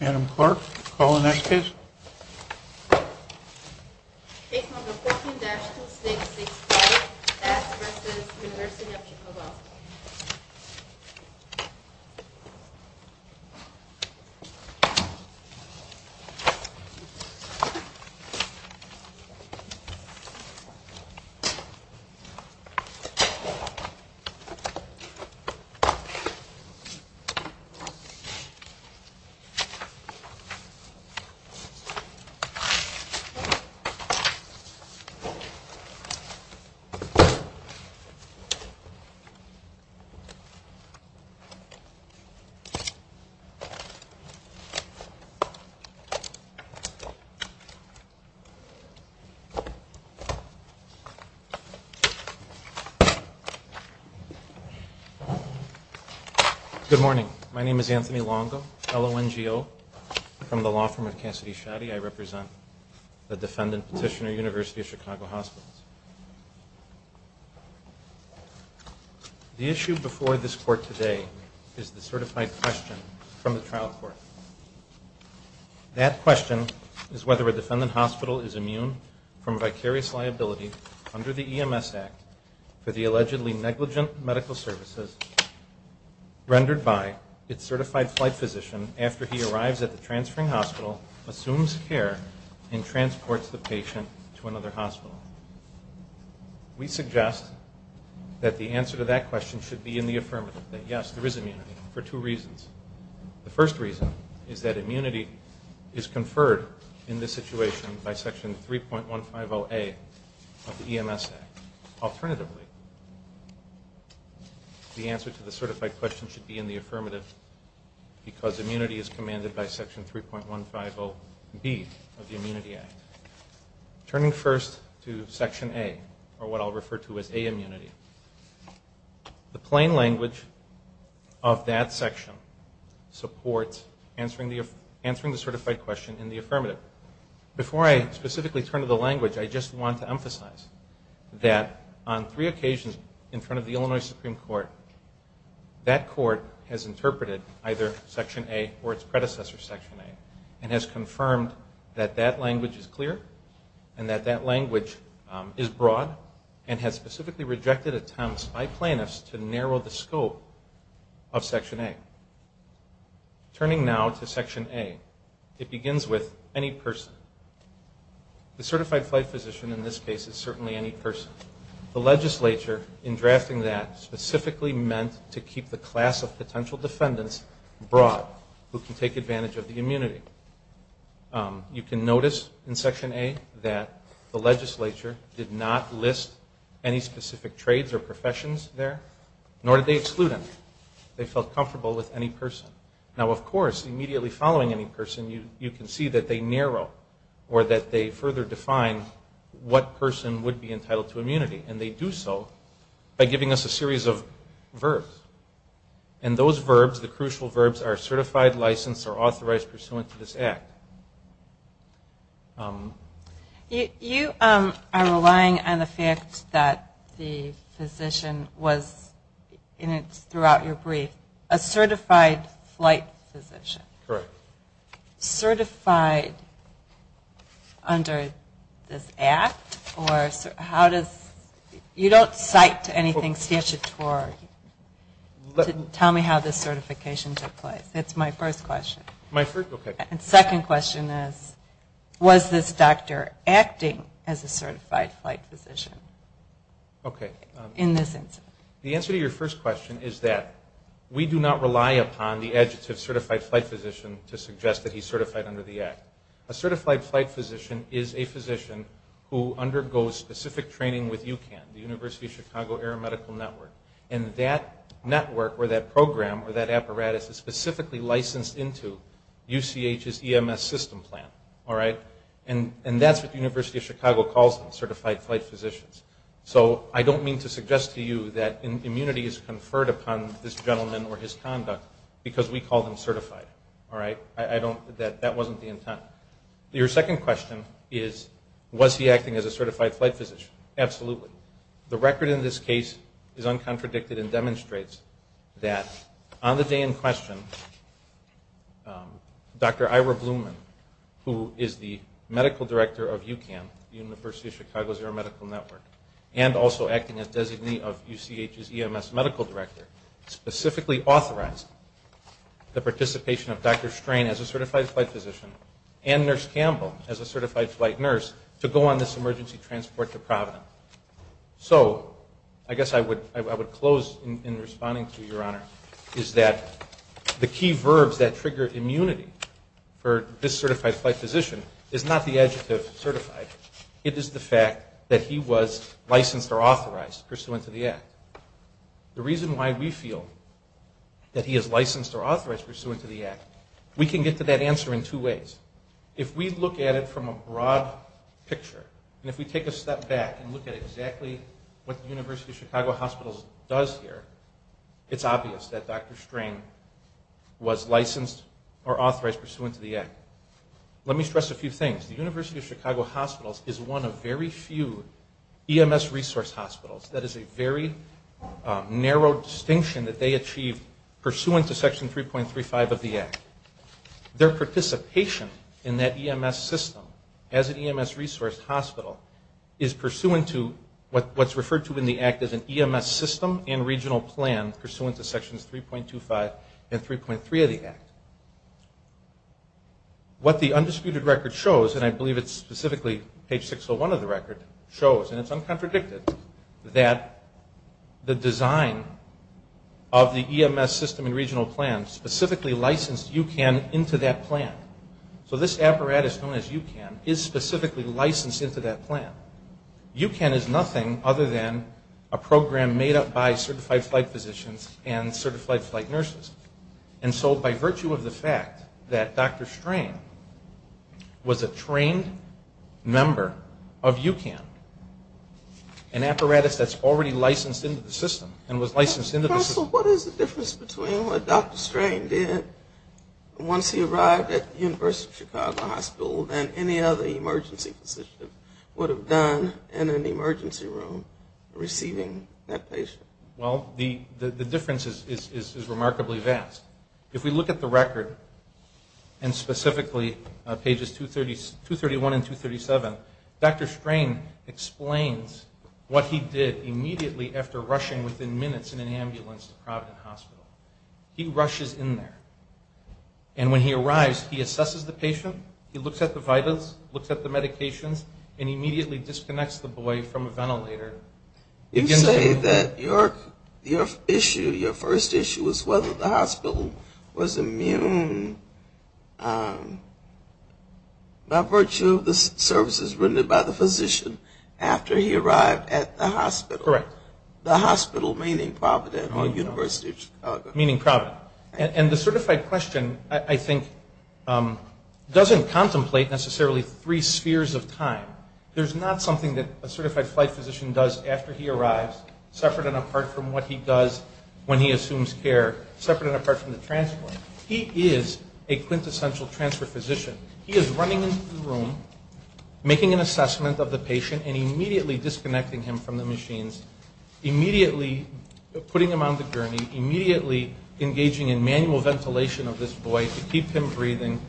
Adam Clark, call the next case. Case number 14-2665, Aspreces University of Chicago. Good morning. My name is Anthony Longo, L-O-N-G-O. From the law firm of Cassidy Shaddy, I represent the defendant petitioner, University of Chicago Hospitals. The issue before this court today is the certified question from the trial court. That question is whether a defendant hospital is immune from vicarious liability under the EMS Act for the allegedly negligent medical services rendered by its certified flight physician after he arrives at the transferring hospital, assumes care, and transports the patient to another hospital. We suggest that the answer to that question should be in the affirmative, that, yes, there is immunity for two reasons. The first reason is that immunity is conferred in this situation by Section 3.150A of the EMS Act. Alternatively, the answer to the certified question should be in the affirmative because immunity is commanded by Section 3.150B of the Immunity Act. Turning first to Section A, or what I'll refer to as A immunity, the plain language of that section supports answering the certified question in the affirmative. However, before I specifically turn to the language, I just want to emphasize that on three occasions in front of the Illinois Supreme Court, that court has interpreted either Section A or its predecessor, Section A, and has confirmed that that language is clear and that that language is broad and has specifically rejected attempts by plaintiffs to narrow the scope of Section A. Turning now to Section A, it begins with any person. The certified flight physician in this case is certainly any person. The legislature, in drafting that, specifically meant to keep the class of potential defendants broad who can take advantage of the immunity. You can notice in Section A that the legislature did not list any specific trades or professions there, nor did they exclude any. They felt comfortable with any person. Now, of course, immediately following any person, you can see that they narrow or that they further define what person would be entitled to immunity, and they do so by giving us a series of verbs. And those verbs, the crucial verbs, are certified, licensed, or authorized pursuant to this Act. You are relying on the fact that the physician was, and it's throughout your brief, a certified flight physician. Correct. Certified under this Act, or how does you don't cite to anything statutory to tell me how this certification took place. That's my first question. My first, okay. And second question is, was this doctor acting as a certified flight physician? Okay. In this instance. The answer to your first question is that we do not rely upon the adjective certified flight physician to suggest that he's certified under the Act. A certified flight physician is a physician who undergoes specific training with UCAN, the University of Chicago Air Medical Network. And that network, or that program, or that apparatus is specifically licensed into UCH's EMS system plan. All right? And that's what the University of Chicago calls them, certified flight physicians. So I don't mean to suggest to you that immunity is conferred upon this gentleman or his conduct because we call them certified. All right? That wasn't the intent. Your second question is, was he acting as a certified flight physician? Absolutely. The record in this case is uncontradicted and demonstrates that on the day in question, Dr. Ira Blumen, who is the medical director of UCAN, the University of Chicago's Air Medical Network, and also acting as designee of UCH's EMS medical director, specifically authorized the participation of Dr. Strain as a certified flight physician and Nurse Campbell as a certified flight nurse to go on this emergency transport to Providence. So I guess I would close in responding to you, Your Honor, is that the key verbs that trigger immunity for this certified flight physician is not the adjective certified. It is the fact that he was licensed or authorized pursuant to the act. The reason why we feel that he is licensed or authorized pursuant to the act, we can get to that answer in two ways. If we look at it from a broad picture, and if we take a step back and look at exactly what the University of Chicago Hospitals does here, it's obvious that Dr. Strain was licensed or authorized pursuant to the act. Let me stress a few things. The University of Chicago Hospitals is one of very few EMS resource hospitals. That is a very narrow distinction that they achieved pursuant to Section 3.35 of the act. Their participation in that EMS system as an EMS resource hospital is pursuant to what's referred to in the act as an EMS system and regional plan pursuant to Sections 3.25 and 3.3 of the act. What the undisputed record shows, and I believe it's specifically page 601 of the record, shows, and it's uncontradicted, that the design of the EMS system and regional plan specifically licensed UCAN into that plan. So this apparatus known as UCAN is specifically licensed into that plan. UCAN is nothing other than a program made up by certified flight physicians and certified flight nurses. And so by virtue of the fact that Dr. Strain was a trained member of UCAN, an apparatus that's already licensed into the system and was licensed into the system... First of all, what is the difference between what Dr. Strain did once he arrived at the University of Chicago Hospital than any other emergency physician would have done in an emergency room receiving that patient? Well, the difference is remarkably vast. If we look at the record, and specifically pages 231 and 237, Dr. Strain explains what he did immediately after rushing within minutes in an ambulance to Providence Hospital. He rushes in there, and when he arrives, he assesses the patient. He looks at the vitals, looks at the medications, and immediately disconnects the boy from a ventilator. You say that your issue, your first issue, was whether the hospital was immune by virtue of the services rendered by the physician after he arrived at the hospital. Correct. The hospital meaning Providence or University of Chicago. Meaning Providence. And the certified question, I think, doesn't contemplate necessarily three spheres of time. There's not something that a certified flight physician does after he arrives, separate and apart from what he does when he assumes care, separate and apart from the transfer. He is a quintessential transfer physician. He is running into the room, making an assessment of the patient, and immediately disconnecting him from the machines, immediately putting him on the gurney, immediately engaging in manual ventilation of this boy to keep him breathing,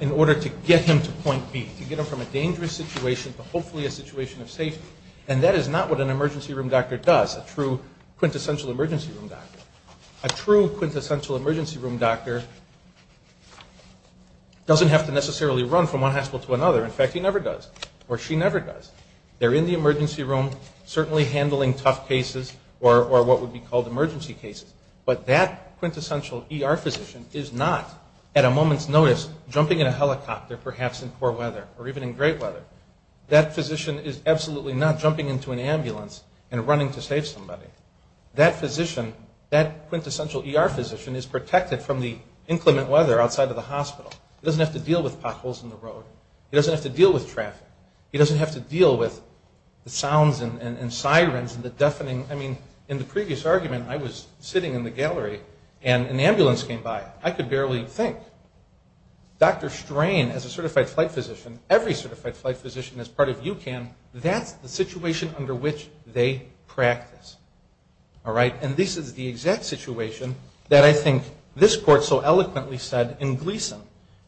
in order to get him to point B, to get him from a dangerous situation to hopefully a situation of safety. And that is not what an emergency room doctor does, a true quintessential emergency room doctor. A true quintessential emergency room doctor doesn't have to necessarily run from one hospital to another. In fact, he never does. Or she never does. They're in the emergency room, certainly handling tough cases, or what would be called emergency cases. But that quintessential ER physician is not, at a moment's notice, jumping in a helicopter, perhaps in poor weather, or even in great weather. That physician is absolutely not jumping into an ambulance and running to save somebody. That physician, that quintessential ER physician is protected from the inclement weather outside of the hospital. He doesn't have to deal with potholes in the road. He doesn't have to deal with traffic. He doesn't have to deal with the sounds and sirens and the deafening. I mean, in the previous argument, I was sitting in the gallery, and an ambulance came by. I could barely think. Dr. Strain, as a certified flight physician, every certified flight physician as part of UCAN, that's the situation under which they practice. And this is the exact situation that I think this court so eloquently said in Gleason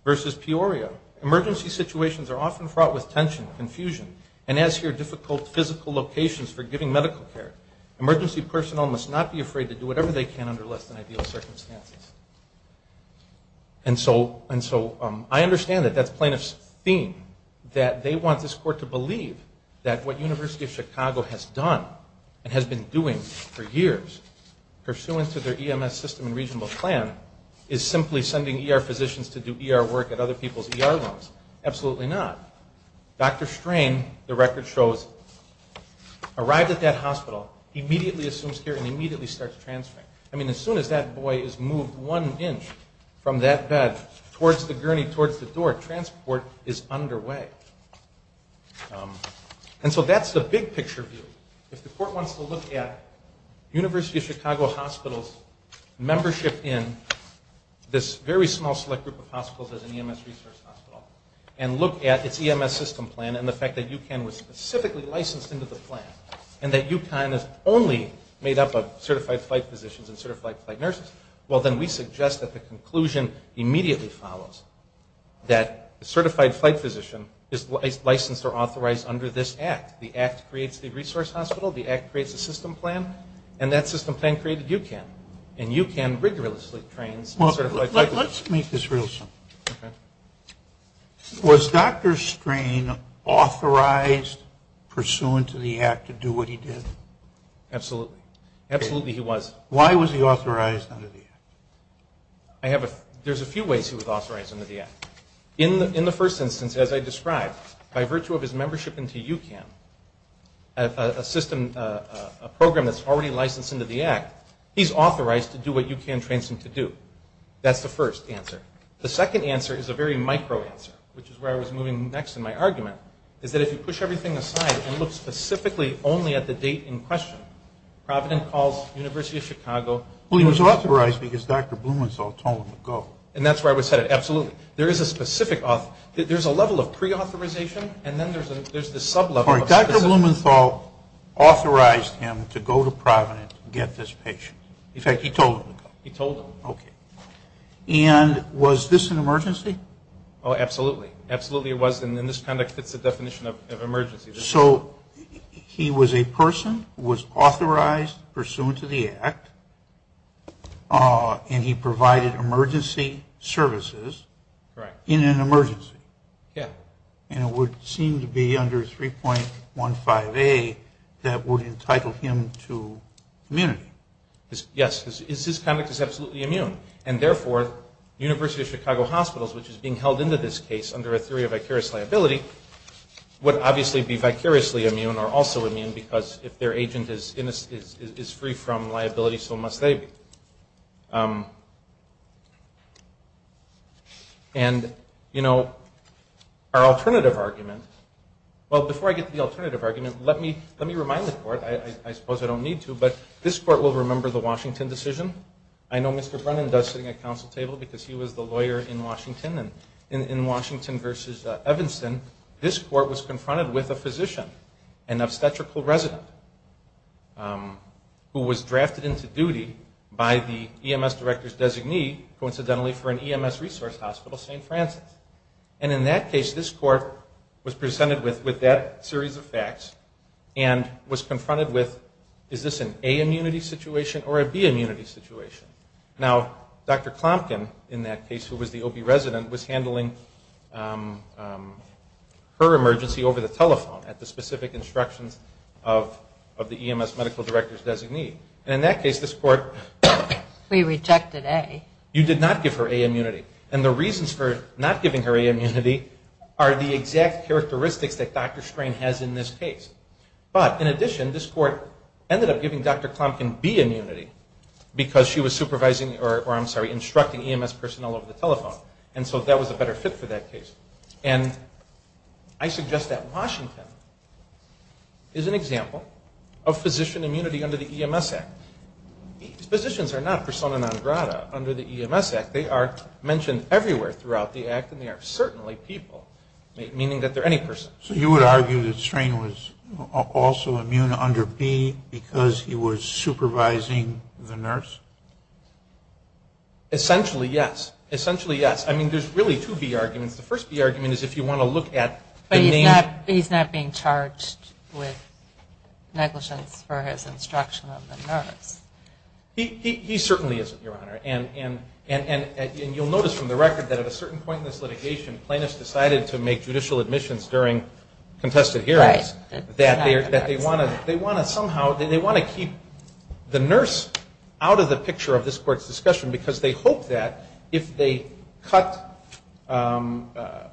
versus Peoria. Emergency situations are often fraught with tension, confusion, and as here, difficult physical locations for giving medical care. Emergency personnel must not be afraid to do whatever they can under less than ideal circumstances. And so I understand that that's plaintiff's theme, that they want this court to believe that what University of Chicago has done, and has been doing for years, pursuant to their EMS system and reasonable plan, is simply sending ER physicians to do ER work at other people's ER rooms. Absolutely not. Dr. Strain, the record shows, arrived at that hospital, immediately assumes care, and immediately starts transferring. I mean, as soon as that boy is moved one inch from that bed towards the gurney, towards the door, transport is underway. And so that's the big picture view. If the court wants to look at University of Chicago Hospitals' membership in this very small select group of hospitals as an EMS resource hospital, and look at its EMS system plan, and the fact that UCAN was specifically licensed into the plan, and that UCAN is only made up of certified flight physicians, and certified flight nurses, well then we suggest that the conclusion immediately follows, that a certified flight physician is licensed or authorized under this act. The act creates the resource hospital, the act creates the system plan, and that system plan created UCAN. And UCAN rigorously trains certified flight physicians. Let's make this real simple. Was Dr. Strain authorized, pursuant to the act, to do what he did? Absolutely. Absolutely he was. Why was he authorized under the act? There's a few ways he was authorized under the act. In the first instance, as I described, by virtue of his membership into UCAN, a program that's already licensed into the act, he's authorized to do what UCAN trains him to do. That's the first answer. The second answer is a very micro answer, which is where I was moving next in my argument, is that if you push everything aside and look specifically only at the date in question, Provident calls University of Chicago. Well he was authorized because Dr. Blumenthal told him to go. And that's where I was headed, absolutely. There is a specific, there's a level of pre-authorization, and then there's the sub-level. Dr. Blumenthal authorized him to go to Provident to get this patient. In fact, he told him to go. He told him. And was this an emergency? Oh, absolutely. Absolutely it was, and this kind of fits the definition of emergency. So he was a person who was authorized pursuant to the act, and he provided emergency services in an emergency. And it would seem to be under 3.15A that would entitle him to immunity. Yes, his conduct is absolutely immune, and therefore University of Chicago Hospitals, which is being held into this case under a theory of vicarious liability, would obviously be vicariously immune or also immune, because if their agent is free from liability, so must they be. And, you know, our alternative argument, well before I get to the alternative argument, let me remind the court, I suppose I don't need to, but this court will remember the Washington decision. I know Mr. Brennan does, sitting at council table, because he was the lawyer in Washington, and in Washington v. Evanston, this court was confronted with a physician, an obstetrical resident, who was drafted into duty by the University of Chicago. By the EMS director's designee, coincidentally for an EMS resource hospital, St. Francis. And in that case, this court was presented with that series of facts and was confronted with, is this an A immunity situation or a B immunity situation? Now, Dr. Clomkin, in that case, who was the OB resident, was handling her emergency over the telephone at the specific instructions of the EMS medical director's designee. And in that case, this court, you did not give her A immunity. And the reasons for not giving her A immunity are the exact characteristics that Dr. Strain has in this case. But, in addition, this court ended up giving Dr. Clomkin B immunity, because she was supervising, or I'm sorry, instructing EMS personnel over the telephone. And so that was a better fit for that case. And I suggest that Washington is an example of physician immunity under the EMS Act. These physicians are not persona non grata under the EMS Act. They are mentioned everywhere throughout the Act, and they are certainly people, meaning that they're any person. So you would argue that Strain was also immune under B because he was supervising the nurse? Essentially, yes. Essentially, yes. I mean, there's really two B arguments. The first B argument is if you want to look at the name. But he's not being charged with negligence for his instruction of the nurse? He certainly isn't, Your Honor. And you'll notice from the record that at a certain point in this litigation, plaintiffs decided to make judicial admissions during contested hearings. They want to keep the nurse out of the picture of this court's discussion, because they hope that if they cut out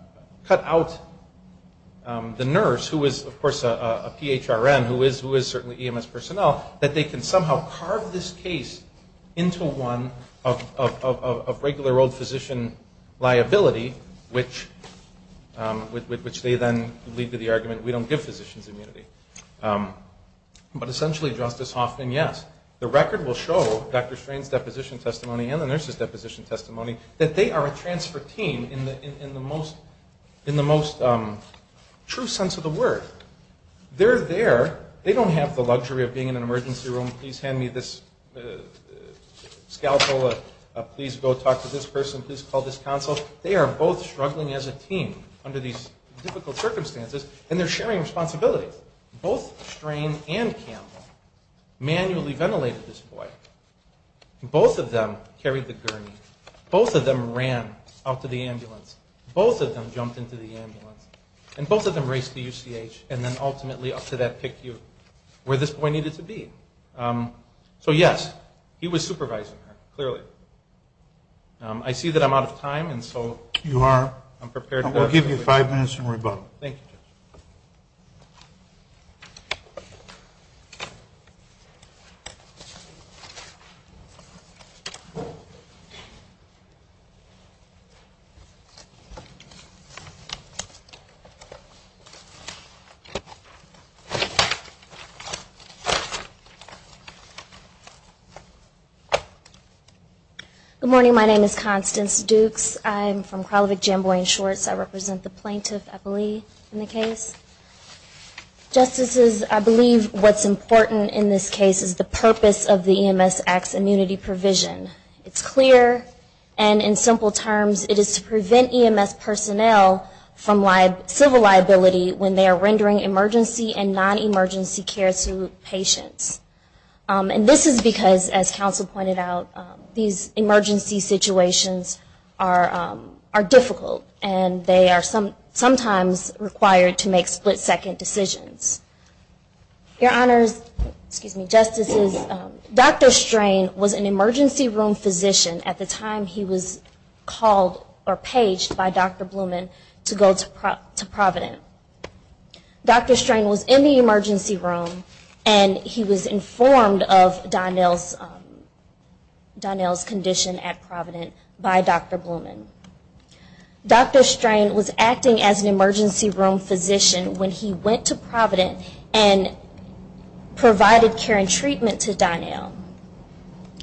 the nurse, who is, of course, a PHRN, who is certainly EMS personnel, that they can somehow carve this case into one of regular old physician liability, which they then lead to the argument we don't give physicians. But essentially, Justice Hoffman, yes. The record will show, Dr. Strain's deposition testimony and the nurse's deposition testimony, that they are a transfer team in the most true sense of the word. They're there. They don't have the luxury of being in an emergency room. Please hand me this scalpel. Please go talk to this person. Please call this counsel. They are both struggling as a team under these difficult circumstances, and they're sharing responsibilities. Both Strain and Campbell manually ventilated this boy. Both of them carried the gurney. Both of them ran out to the ambulance. Both of them jumped into the ambulance. And both of them raced to UCH and then ultimately up to that PICU where this boy needed to be. So yes, he was supervising her, clearly. I see that I'm out of time, and so... You are. I'm prepared to... We'll give you five minutes and rebuttal. Thank you, Justice. Good morning. My name is Constance Dukes. I'm from Kralovic Jamboree and Shorts. I represent the plaintiff, I believe, in the case. Justices, I believe what's important in this case is the purpose of the EMS Act's immunity provision. It's clear, and in simple terms, it is to prevent EMS personnel from civil liability when they are rendering emergency and non-emergency care to patients. And this is because, as counsel pointed out, these emergency situations are difficult, and they are sometimes required to make split-second decisions. Your Honors, excuse me, Justices, Dr. Strain was an emergency room physician at the time he was called or paged by Dr. Blumen to go to Provident. Dr. Strain was in the emergency room, and he was informed of Donnell's condition at Provident by Dr. Blumen. Dr. Strain was acting as an emergency room physician when he went to Provident and provided care and treatment to Donnell.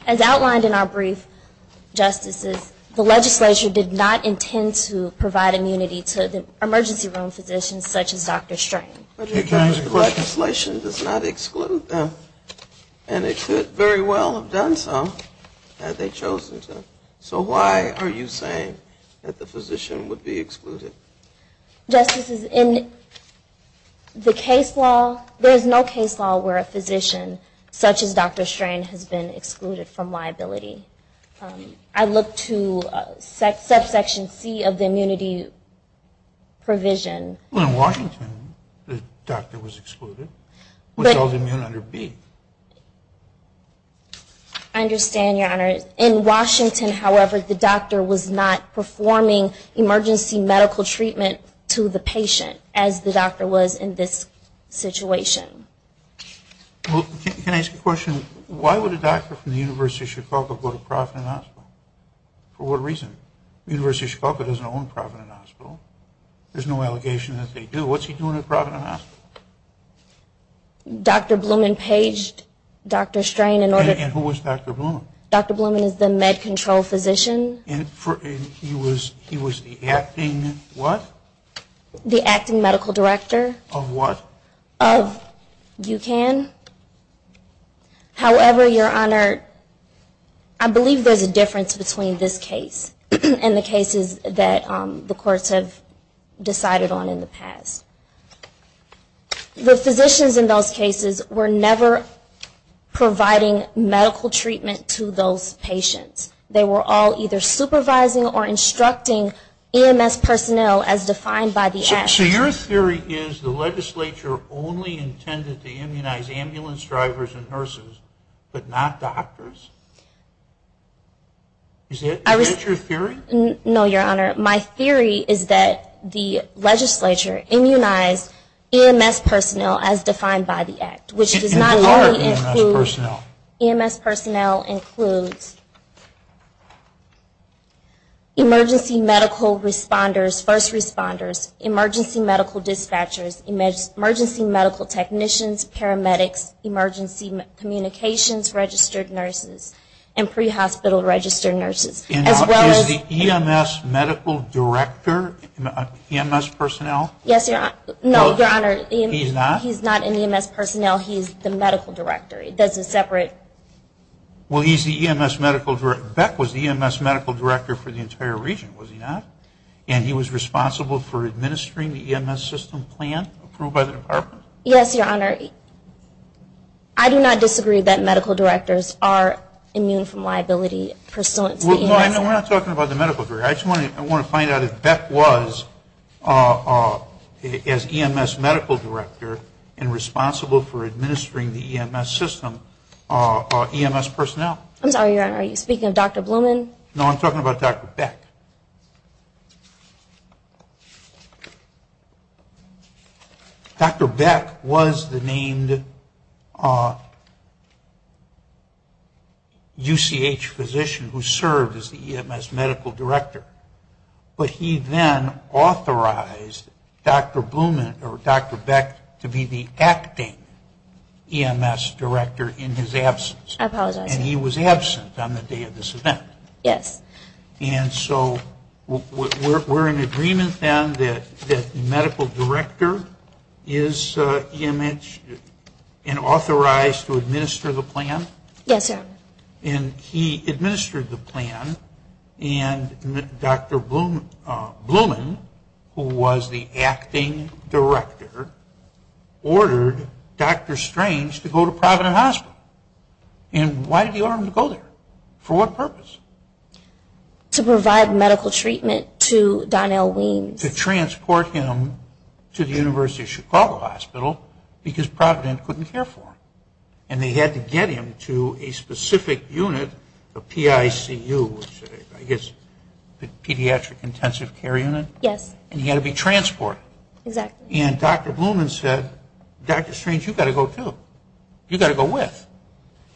As outlined in our brief, Justices, the legislature did not intend to provide immunity to the emergency room physician. The legislature does not exclude them, and it could very well have done so, had they chosen to. So why are you saying that the physician would be excluded? Justices, in the case law, there is no case law where a physician such as Dr. Strain has been excluded from liability. I look to subsection C of the immunity provision. In Washington, the doctor was excluded. I understand, Your Honors. In Washington, however, the doctor was not performing emergency medical treatment to the patient, as the doctor was in this situation. Well, can I ask a question? Why would a doctor from the University of Chicago go to Provident Hospital? For what reason? The University of Chicago doesn't own Provident Hospital. There's no allegation that they do. What's he doing at Provident Hospital? Dr. Blumen paged Dr. Strain. And who was Dr. Blumen? Dr. Blumen is the med control physician. And he was the acting what? The acting medical director. Of what? Of UCAN. However, Your Honor, I believe there's a difference between this case and the cases that the courts have decided on in the past. The physicians in those cases were never providing medical treatment to those patients. They were all either supervising or instructing EMS personnel as defined by the act. So your theory is the legislature only intended to immunize ambulance drivers and nurses, but not doctors? Is that your theory? No, Your Honor. My theory is that the legislature immunized EMS personnel as defined by the act. Which does not only include... EMS personnel includes emergency medical responders, first responders, emergency medical dispatchers, emergency medical technicians, paramedics, emergency communications registered nurses, and pre-hospital registered nurses. And is the EMS medical director EMS personnel? Yes, Your Honor. No, Your Honor. He's not? He's not an EMS personnel. He's the medical director. That's a separate... Well, he's the EMS medical director. Beck was the EMS medical director for the entire region, was he not? And he was responsible for administering the EMS system plan approved by the department? Yes, Your Honor. I do not disagree that medical directors are immune from liability pursuant to the EMS... No, we're not talking about the medical director. I just want to find out if Beck was, as EMS medical director, and responsible for administering the EMS system, EMS personnel. I'm sorry, Your Honor. Are you speaking of Dr. Blumen? No, I'm talking about Dr. Beck. Dr. Beck was the named UCH physician who served as the EMS medical director. But he then authorized Dr. Blumen or Dr. Beck to be the acting EMS director in his absence. I apologize. And he was absent on the day of this event. And so we're in agreement then that the medical director is EMS and authorized to administer the plan? Yes, Your Honor. And he administered the plan and Dr. Blumen, who was the acting director, ordered Dr. Strange to go to Provident Hospital. And why did he order him to go there? For what purpose? To provide medical treatment to Don L. Weems. To transport him to the University of Chicago Hospital because Provident couldn't care for him. And they had to get him to a specific unit, the PICU, I guess the Pediatric Intensive Care Unit? Yes. And he had to be transported. And Dr. Blumen said, Dr. Strange, you've got to go too. You've got to go with.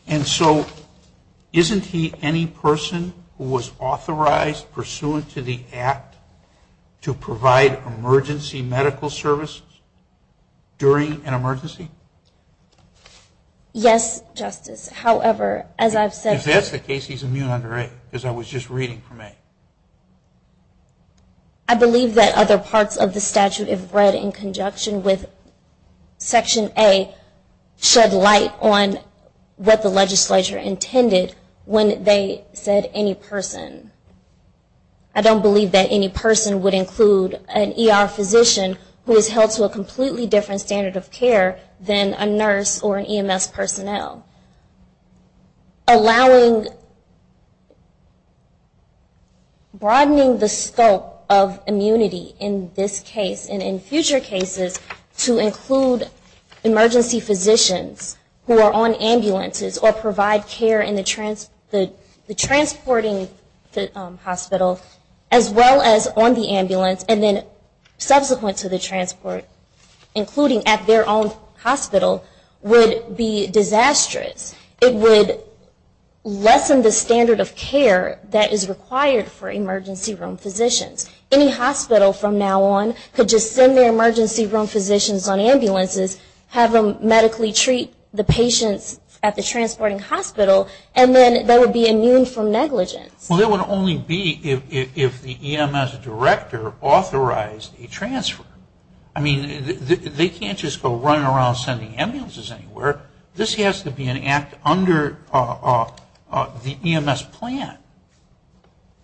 And so isn't he any person who was authorized, pursuant to the act, to provide emergency medical services during an emergency? Yes, Justice. However, as I've said... I guess the case he's immune under A, because I was just reading from A. I believe that other parts of the statute, if read in conjunction with Section A, shed light on what the legislature intended when they said any person. I don't believe that any person would include an ER physician who is held to a completely different standard of care than a nurse or an EMS personnel. Broadening the scope of immunity in this case and in future cases to include emergency physicians who are on ambulances, or provide care in the transporting hospital, as well as on the ambulance, and then subsequent to the transport, including at their own hospital, would be disastrous. It would lessen the standard of care that is required for emergency room physicians. Any hospital from now on could just send their emergency room physicians on ambulances, have them medically treat the patients at the transporting hospital, and then they would be immune from negligence. Well, it would only be if the EMS director authorized a transfer. I mean, they can't just go running around sending ambulances anywhere. This has to be an act under the EMS plan.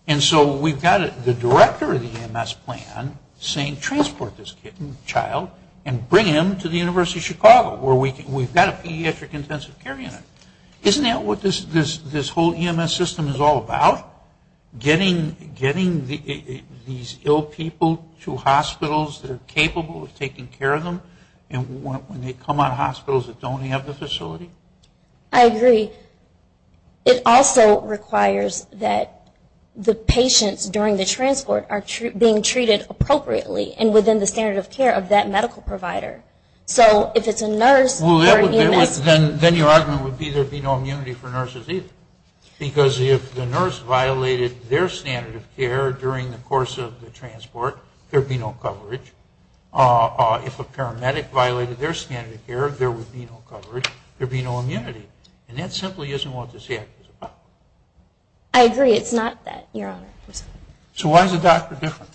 And so we've got the director of the EMS plan saying, transport this child and bring him to the University of Chicago where we've got a pediatric intensive care unit. Isn't that what this whole EMS system is all about? Getting these ill people to hospitals that are capable of taking care of them, and when they come out of hospitals that don't have the facility? I agree. It also requires that the patients during the transport are being treated appropriately and within the standard of care of that medical provider. So if it's a nurse or an EMS... Then your argument would be there would be no immunity for nurses either. Because if the nurse violated their standard of care during the course of the transport, there would be no coverage. If a paramedic violated their standard of care, there would be no coverage, there would be no immunity. And that simply isn't what this act is about. I agree. It's not that, Your Honor. So why is the doctor different?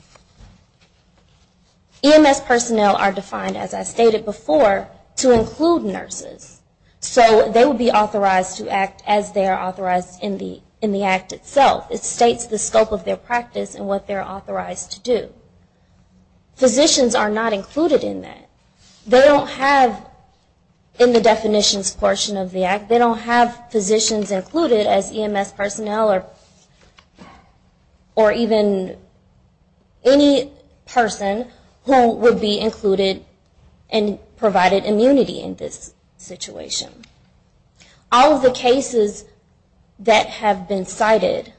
EMS personnel are defined, as I stated before, to include nurses. So they would be authorized to act as they are authorized in the act itself. It states the scope of their practice and what they're authorized to do. Physicians are not included in that. They don't have, in the definitions portion of the act, they don't have physicians included as EMS personnel or even any person who would be included and provided immunity in this situation. All of the cases that have been cited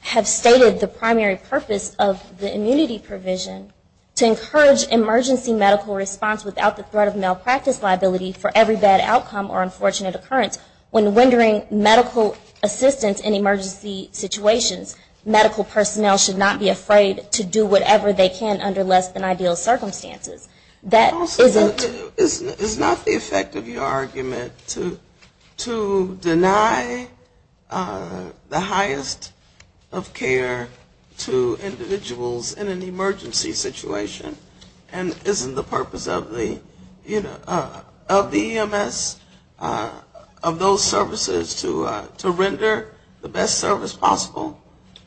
have stated the primary purpose of the immunity provision to encourage emergency medical response without the threat of malpractice liability for every bad outcome or unfortunate occurrence. When rendering medical assistance in emergency situations, medical personnel should not be afraid to do whatever they can under less than ideal circumstances. It's not the effect of your argument to deny the highest of care to individuals in an emergency situation, and isn't the purpose of the EMS, of those services, to render the best service possible?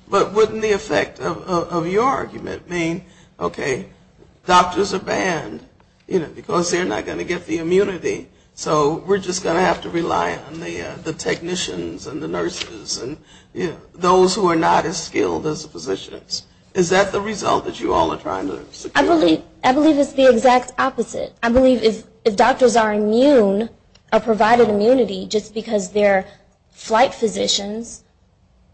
But wouldn't the effect of your argument mean, okay, doctors are banned, you know, because they're not going to get the immunity. So we're just going to have to rely on the technicians and the nurses and, you know, those who are not as skilled as the physicians. Is that the result that you all are trying to secure? I believe it's the exact opposite. I believe if doctors are immune, are provided immunity just because they're flight physicians,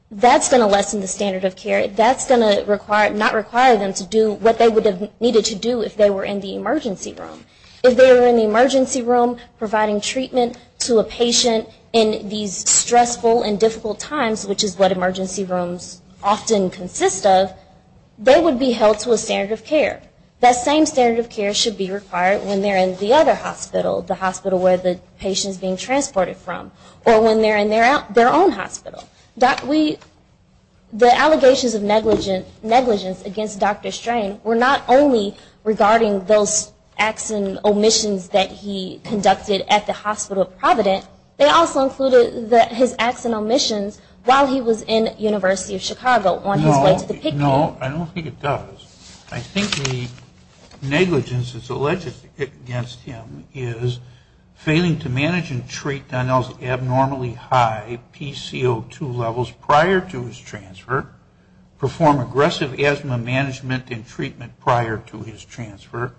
that's going to lessen the standard of care. That's going to not require them to do what they would have needed to do if they were in the emergency room. If they were in the emergency room providing treatment to a patient in these stressful and difficult times, which is what emergency rooms often consist of, they would be held to a standard of care. That same standard of care should be required when they're in the other hospital, the hospital where the patient is being transported from, or when they're in their own hospital. The allegations of negligence against Dr. Strain were not only regarding those acts and omissions that he conducted at the Hospital of Providence, they also included his acts and omissions while he was in the University of Chicago on his way to the PICU. No, I don't think it does. I think the negligence that's alleged against him is failing to manage and treat Donnell's abnormally high PCO2 levels prior to his transfer, perform aggressive asthma management and treatment prior to his transfer,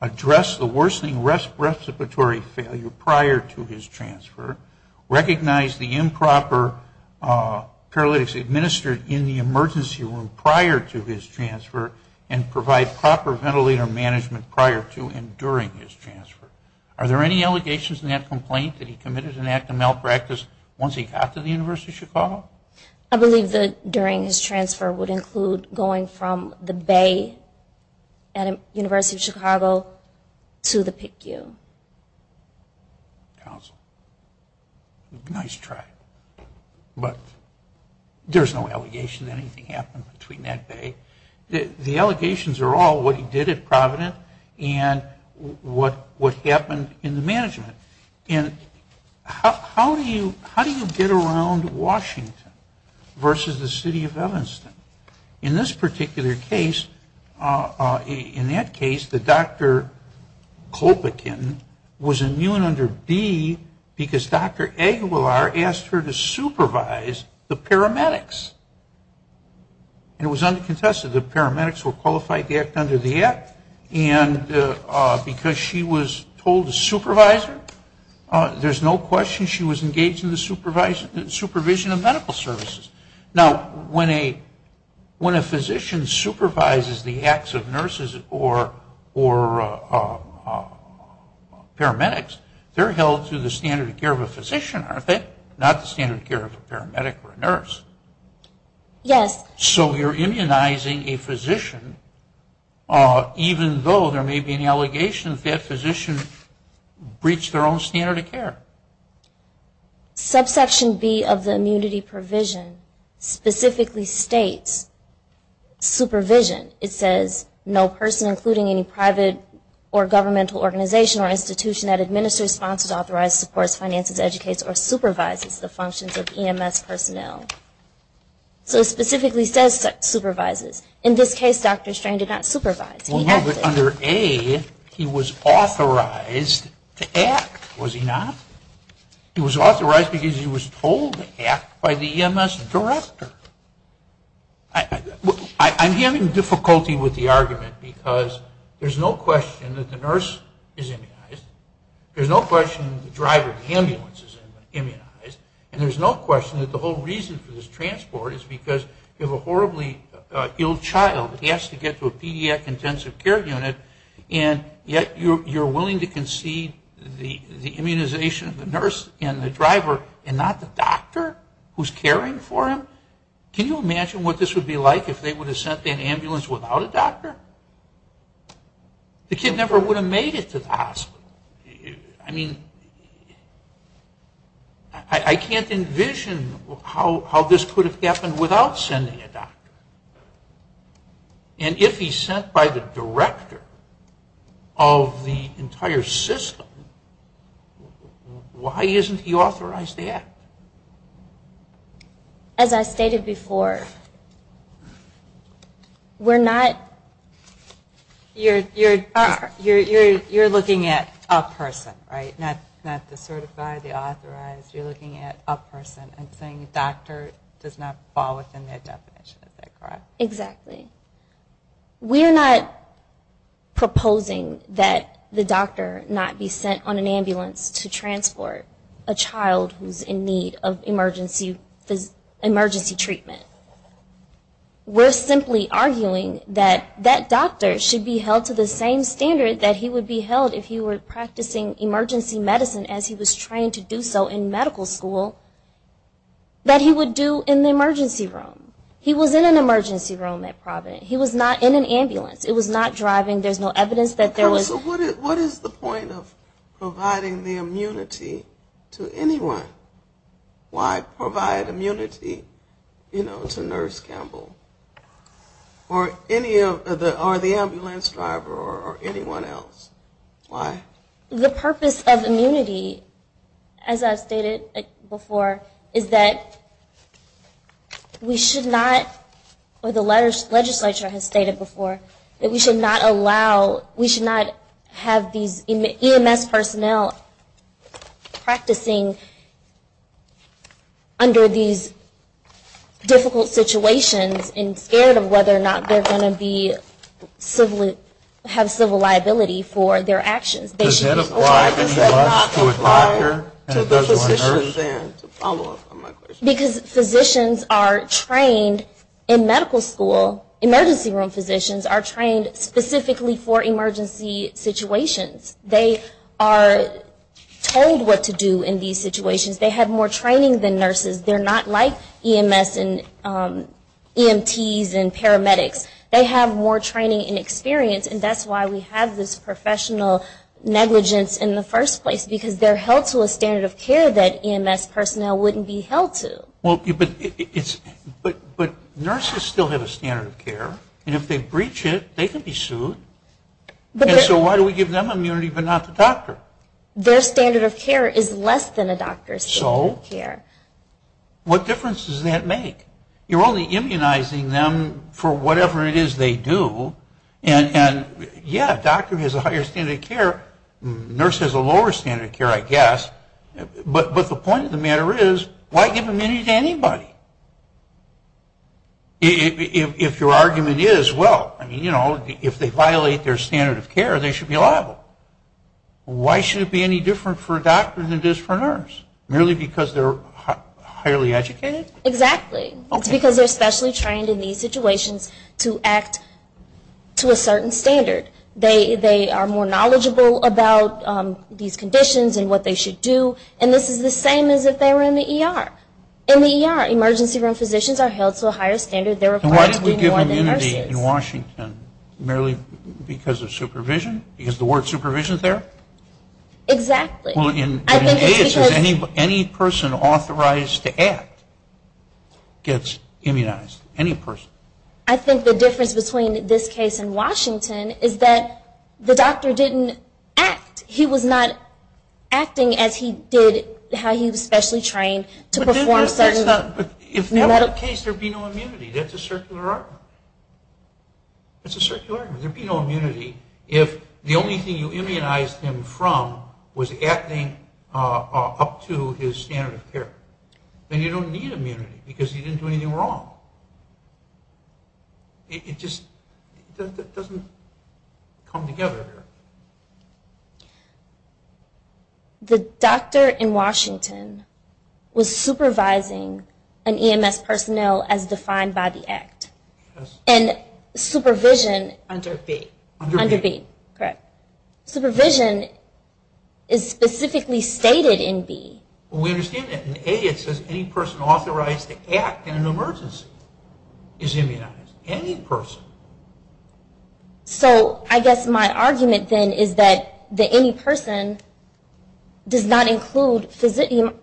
address the worsening respiratory failure prior to his transfer, recognize the improper paralytics administered in the emergency room prior to his transfer, and provide proper ventilator management prior to and during his transfer. Are there any allegations in that complaint that he committed an act of malpractice once he got to the University of Chicago? I believe that during his transfer would include going from the Bay at the University of Chicago to the PICU. Council. Nice try, but there's no allegation that anything happened between that Bay. The allegations are all what he did at Providence and what happened in the management. And how do you get around Washington versus the City of Evanston? In this particular case, in that case, the Dr. Colpacan was immune under B because Dr. Aguilar asked her to supervise the paramedics. And it was uncontested. The paramedics were qualified to act under the act. And because she was told to supervise her, there's no question she was engaged in the supervision of medical services. Now, when a physician supervises the acts of nurses or paramedics, they're held to the standard of care of a physician, aren't they? Not the standard of care of a paramedic or a nurse. So you're immunizing a physician even though there may be an allegation that that physician breached their own standard of care. Subsection B of the immunity provision specifically states supervision. It says no person including any private or governmental organization or institution that administers, sponsors, authorizes, supports, finances, educates, or supervises the functions of EMS personnel. So it specifically says supervises. In this case, Dr. Strain did not supervise. Well, no, but under A, he was authorized to act, was he not? He was authorized because he was told to act by the EMS director. I'm having difficulty with the argument because there's no question that the nurse is immunized. There's no question the driver of the ambulance is immunized. And there's no question that the whole reason for this transport is because you have a horribly ill child. He has to get to a pediatric intensive care unit and yet you're willing to concede the immunization of the nurse and the driver and not the doctor who's caring for him? Can you imagine what this would be like if they would have sent that ambulance without a doctor? The kid never would have made it to the hospital. I mean, I can't envision how this could have happened without sending a doctor. And if he's sent by the director of the entire system, why isn't he authorized to act? As I stated before, we're not... You're looking at a person, right? Not the certified, the authorized. You're looking at a person and saying a doctor does not fall within that definition, is that correct? Exactly. We're not proposing that the doctor not be sent on an ambulance to transport a child who's in need. In need of emergency treatment. We're simply arguing that that doctor should be held to the same standard that he would be held if he were practicing emergency medicine as he was trained to do so in medical school. That he would do in the emergency room. He was in an emergency room at Providence. He was not in an ambulance. It was not driving. There's no evidence that there was... What is the point of providing the immunity to anyone? Why provide immunity, you know, to Nurse Campbell? Or the ambulance driver or anyone else? Why? The purpose of immunity, as I've stated before, is that we should not... As the Chief of the Legislature has stated before, that we should not allow... We should not have these EMS personnel practicing under these difficult situations and scared of whether or not they're going to have civil liability for their actions. Does that apply? Does that not apply to the physicians? Because physicians are trained in medical school, emergency room physicians are trained specifically for emergency situations. They are told what to do in these situations. They have more training than nurses. They're not like EMS and EMTs and paramedics. They have more training and experience and that's why we have this professional negligence in the first place. Because they're held to a standard of care that EMS personnel wouldn't be held to. But nurses still have a standard of care and if they breach it, they can be sued. So why do we give them immunity but not the doctor? Their standard of care is less than a doctor's standard of care. What difference does that make? You're only immunizing them for whatever it is they do. And yeah, a doctor has a higher standard of care. A nurse has a lower standard of care, I guess. But the point of the matter is, why give immunity to anybody? If your argument is, well, if they violate their standard of care, they should be liable. Why should it be any different for a doctor than it is for a nurse? Merely because they're highly educated? Exactly. It's because they're specially trained in these situations to act to a certain standard. They are more knowledgeable about these conditions and what they should do. And this is the same as if they were in the ER. In the ER, emergency room physicians are held to a higher standard. Why do we give immunity in Washington? Merely because of supervision? Because the word supervision is there? Exactly. I think the difference between this case and Washington is that the doctor didn't act. He was not acting as he did, how he was specially trained to perform certain medical tasks. If that were the case, there would be no immunity. That's a circular argument. There would be no immunity if the only thing you immunized him from was acting up to his standard of care. Then you don't need immunity because he didn't do anything wrong. It just doesn't come together here. The doctor in Washington was supervising an EMS personnel as defined by the Act. And supervision is specifically stated in the Act. We understand that in the Act it says any person authorized to act in an emergency is immunized. Any person. So I guess my argument then is that the any person does not include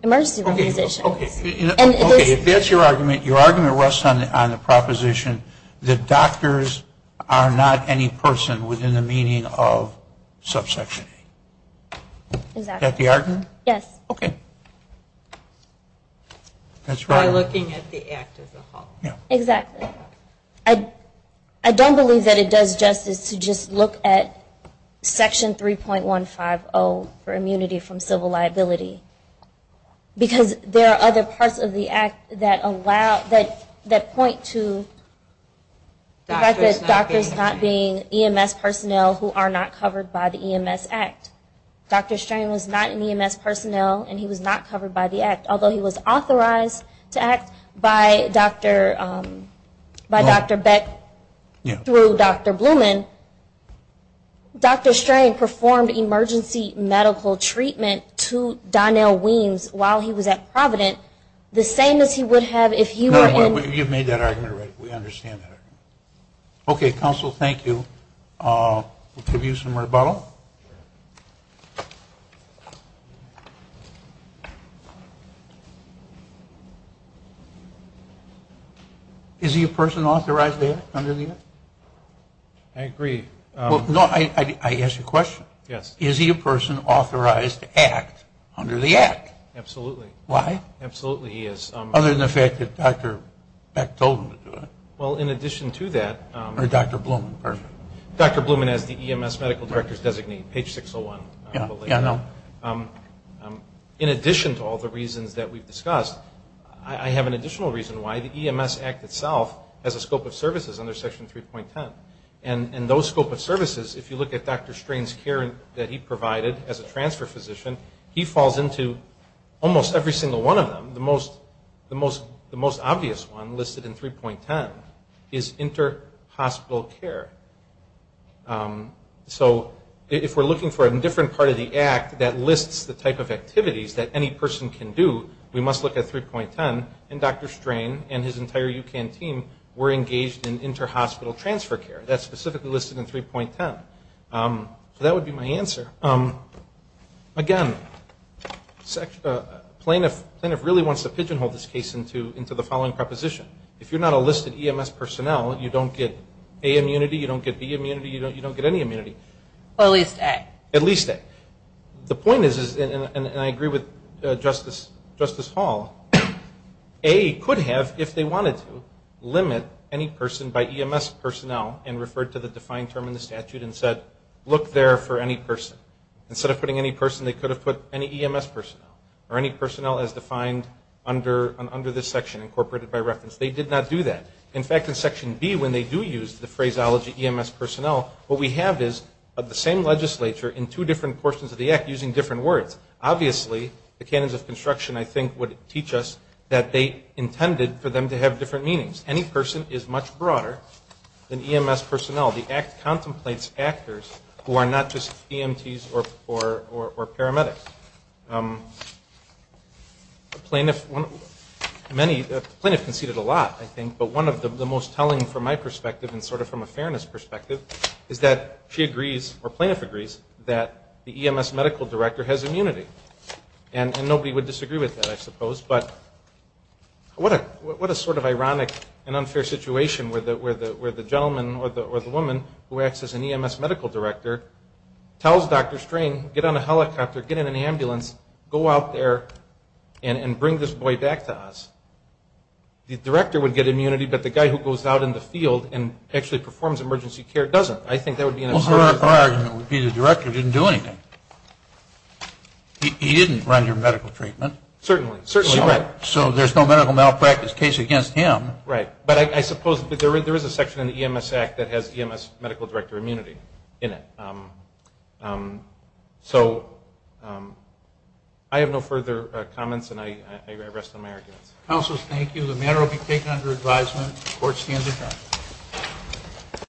emergency room physicians. Okay, if that's your argument, your argument rests on the proposition that doctors are not any person within the meaning of subsection A. Is that the argument? Yes. I don't believe that it does justice to just look at section 3.150 for immunity from civil liability. Because there are other parts of the Act that point to the fact that doctors not being EMS personnel who are not covered by the EMS Act. Dr. Strain was not an EMS personnel and he was not covered by the Act. Although he was authorized to act by Dr. Beck through Dr. Blumen, Dr. Strain performed emergency medical treatment to Dr. Beck. And Dr. Beck was not covered by the Act. Okay, counsel, thank you. Is he a person authorized to act under the Act? Absolutely. Why? Absolutely he is. Other than the fact that Dr. Beck told him to do it. Or Dr. Blumen. Dr. Blumen has the EMS medical directors designee, page 601. In addition to all the reasons that we've discussed, I have an additional reason why the EMS Act itself has a scope of services under section 3.10. And those scope of services, if you look at Dr. Strain's care that he provided as a transfer physician, he falls into almost every single one of them. The most obvious one listed in 3.10 is inter-hospital care. So if we're looking for a different part of the Act that lists the type of activities that any person can do, we must look at 3.10. And Dr. Strain and his entire UCAN team were engaged in inter-hospital transfer care. That's specifically listed in 3.10. So that would be my answer. Again, plaintiff really wants to pigeonhole this case into the following proposition. If you're not a listed EMS personnel, you don't get A immunity, you don't get B immunity, you don't get any immunity. At least A. The point is, and I agree with Justice Hall, A could have, if they wanted to, limit any person by EMS personnel and referred to the defined term in the statute and said, look there for any person. Instead of putting any person, they could have put any EMS personnel or any personnel as defined under this section, incorporated by reference. They did not do that. In fact, in Section B, when they do use the phraseology EMS personnel, what we have is the same legislature in two different portions of the Act using different words. Obviously, the canons of construction, I think, would teach us that they intended for them to have different meanings. Any person is much broader than EMS personnel. The Act contemplates actors who are not just EMTs or paramedics. Plaintiff conceded a lot, I think, but one of the most telling from my perspective and sort of from a fairness perspective is that she agrees, or plaintiff agrees, that the EMS medical director has immunity. And nobody would disagree with that, I suppose, but what a sort of ironic and unfair situation where the gentleman or the woman who acts as an EMS medical director tells Dr. String, get on a helicopter, get in an ambulance, go out there and bring this boy back to us. The director would get immunity, but the guy who goes out in the field and actually performs emergency care doesn't. Well, her argument would be the director didn't do anything. He didn't run your medical treatment. Certainly. So there's no medical malpractice case against him. Right. But I suppose there is a section in the EMS Act that has EMS medical director immunity in it. So I have no further comments, and I rest on my arguments. Counsel, thank you. The matter will be taken under advisement. Court stands adjourned.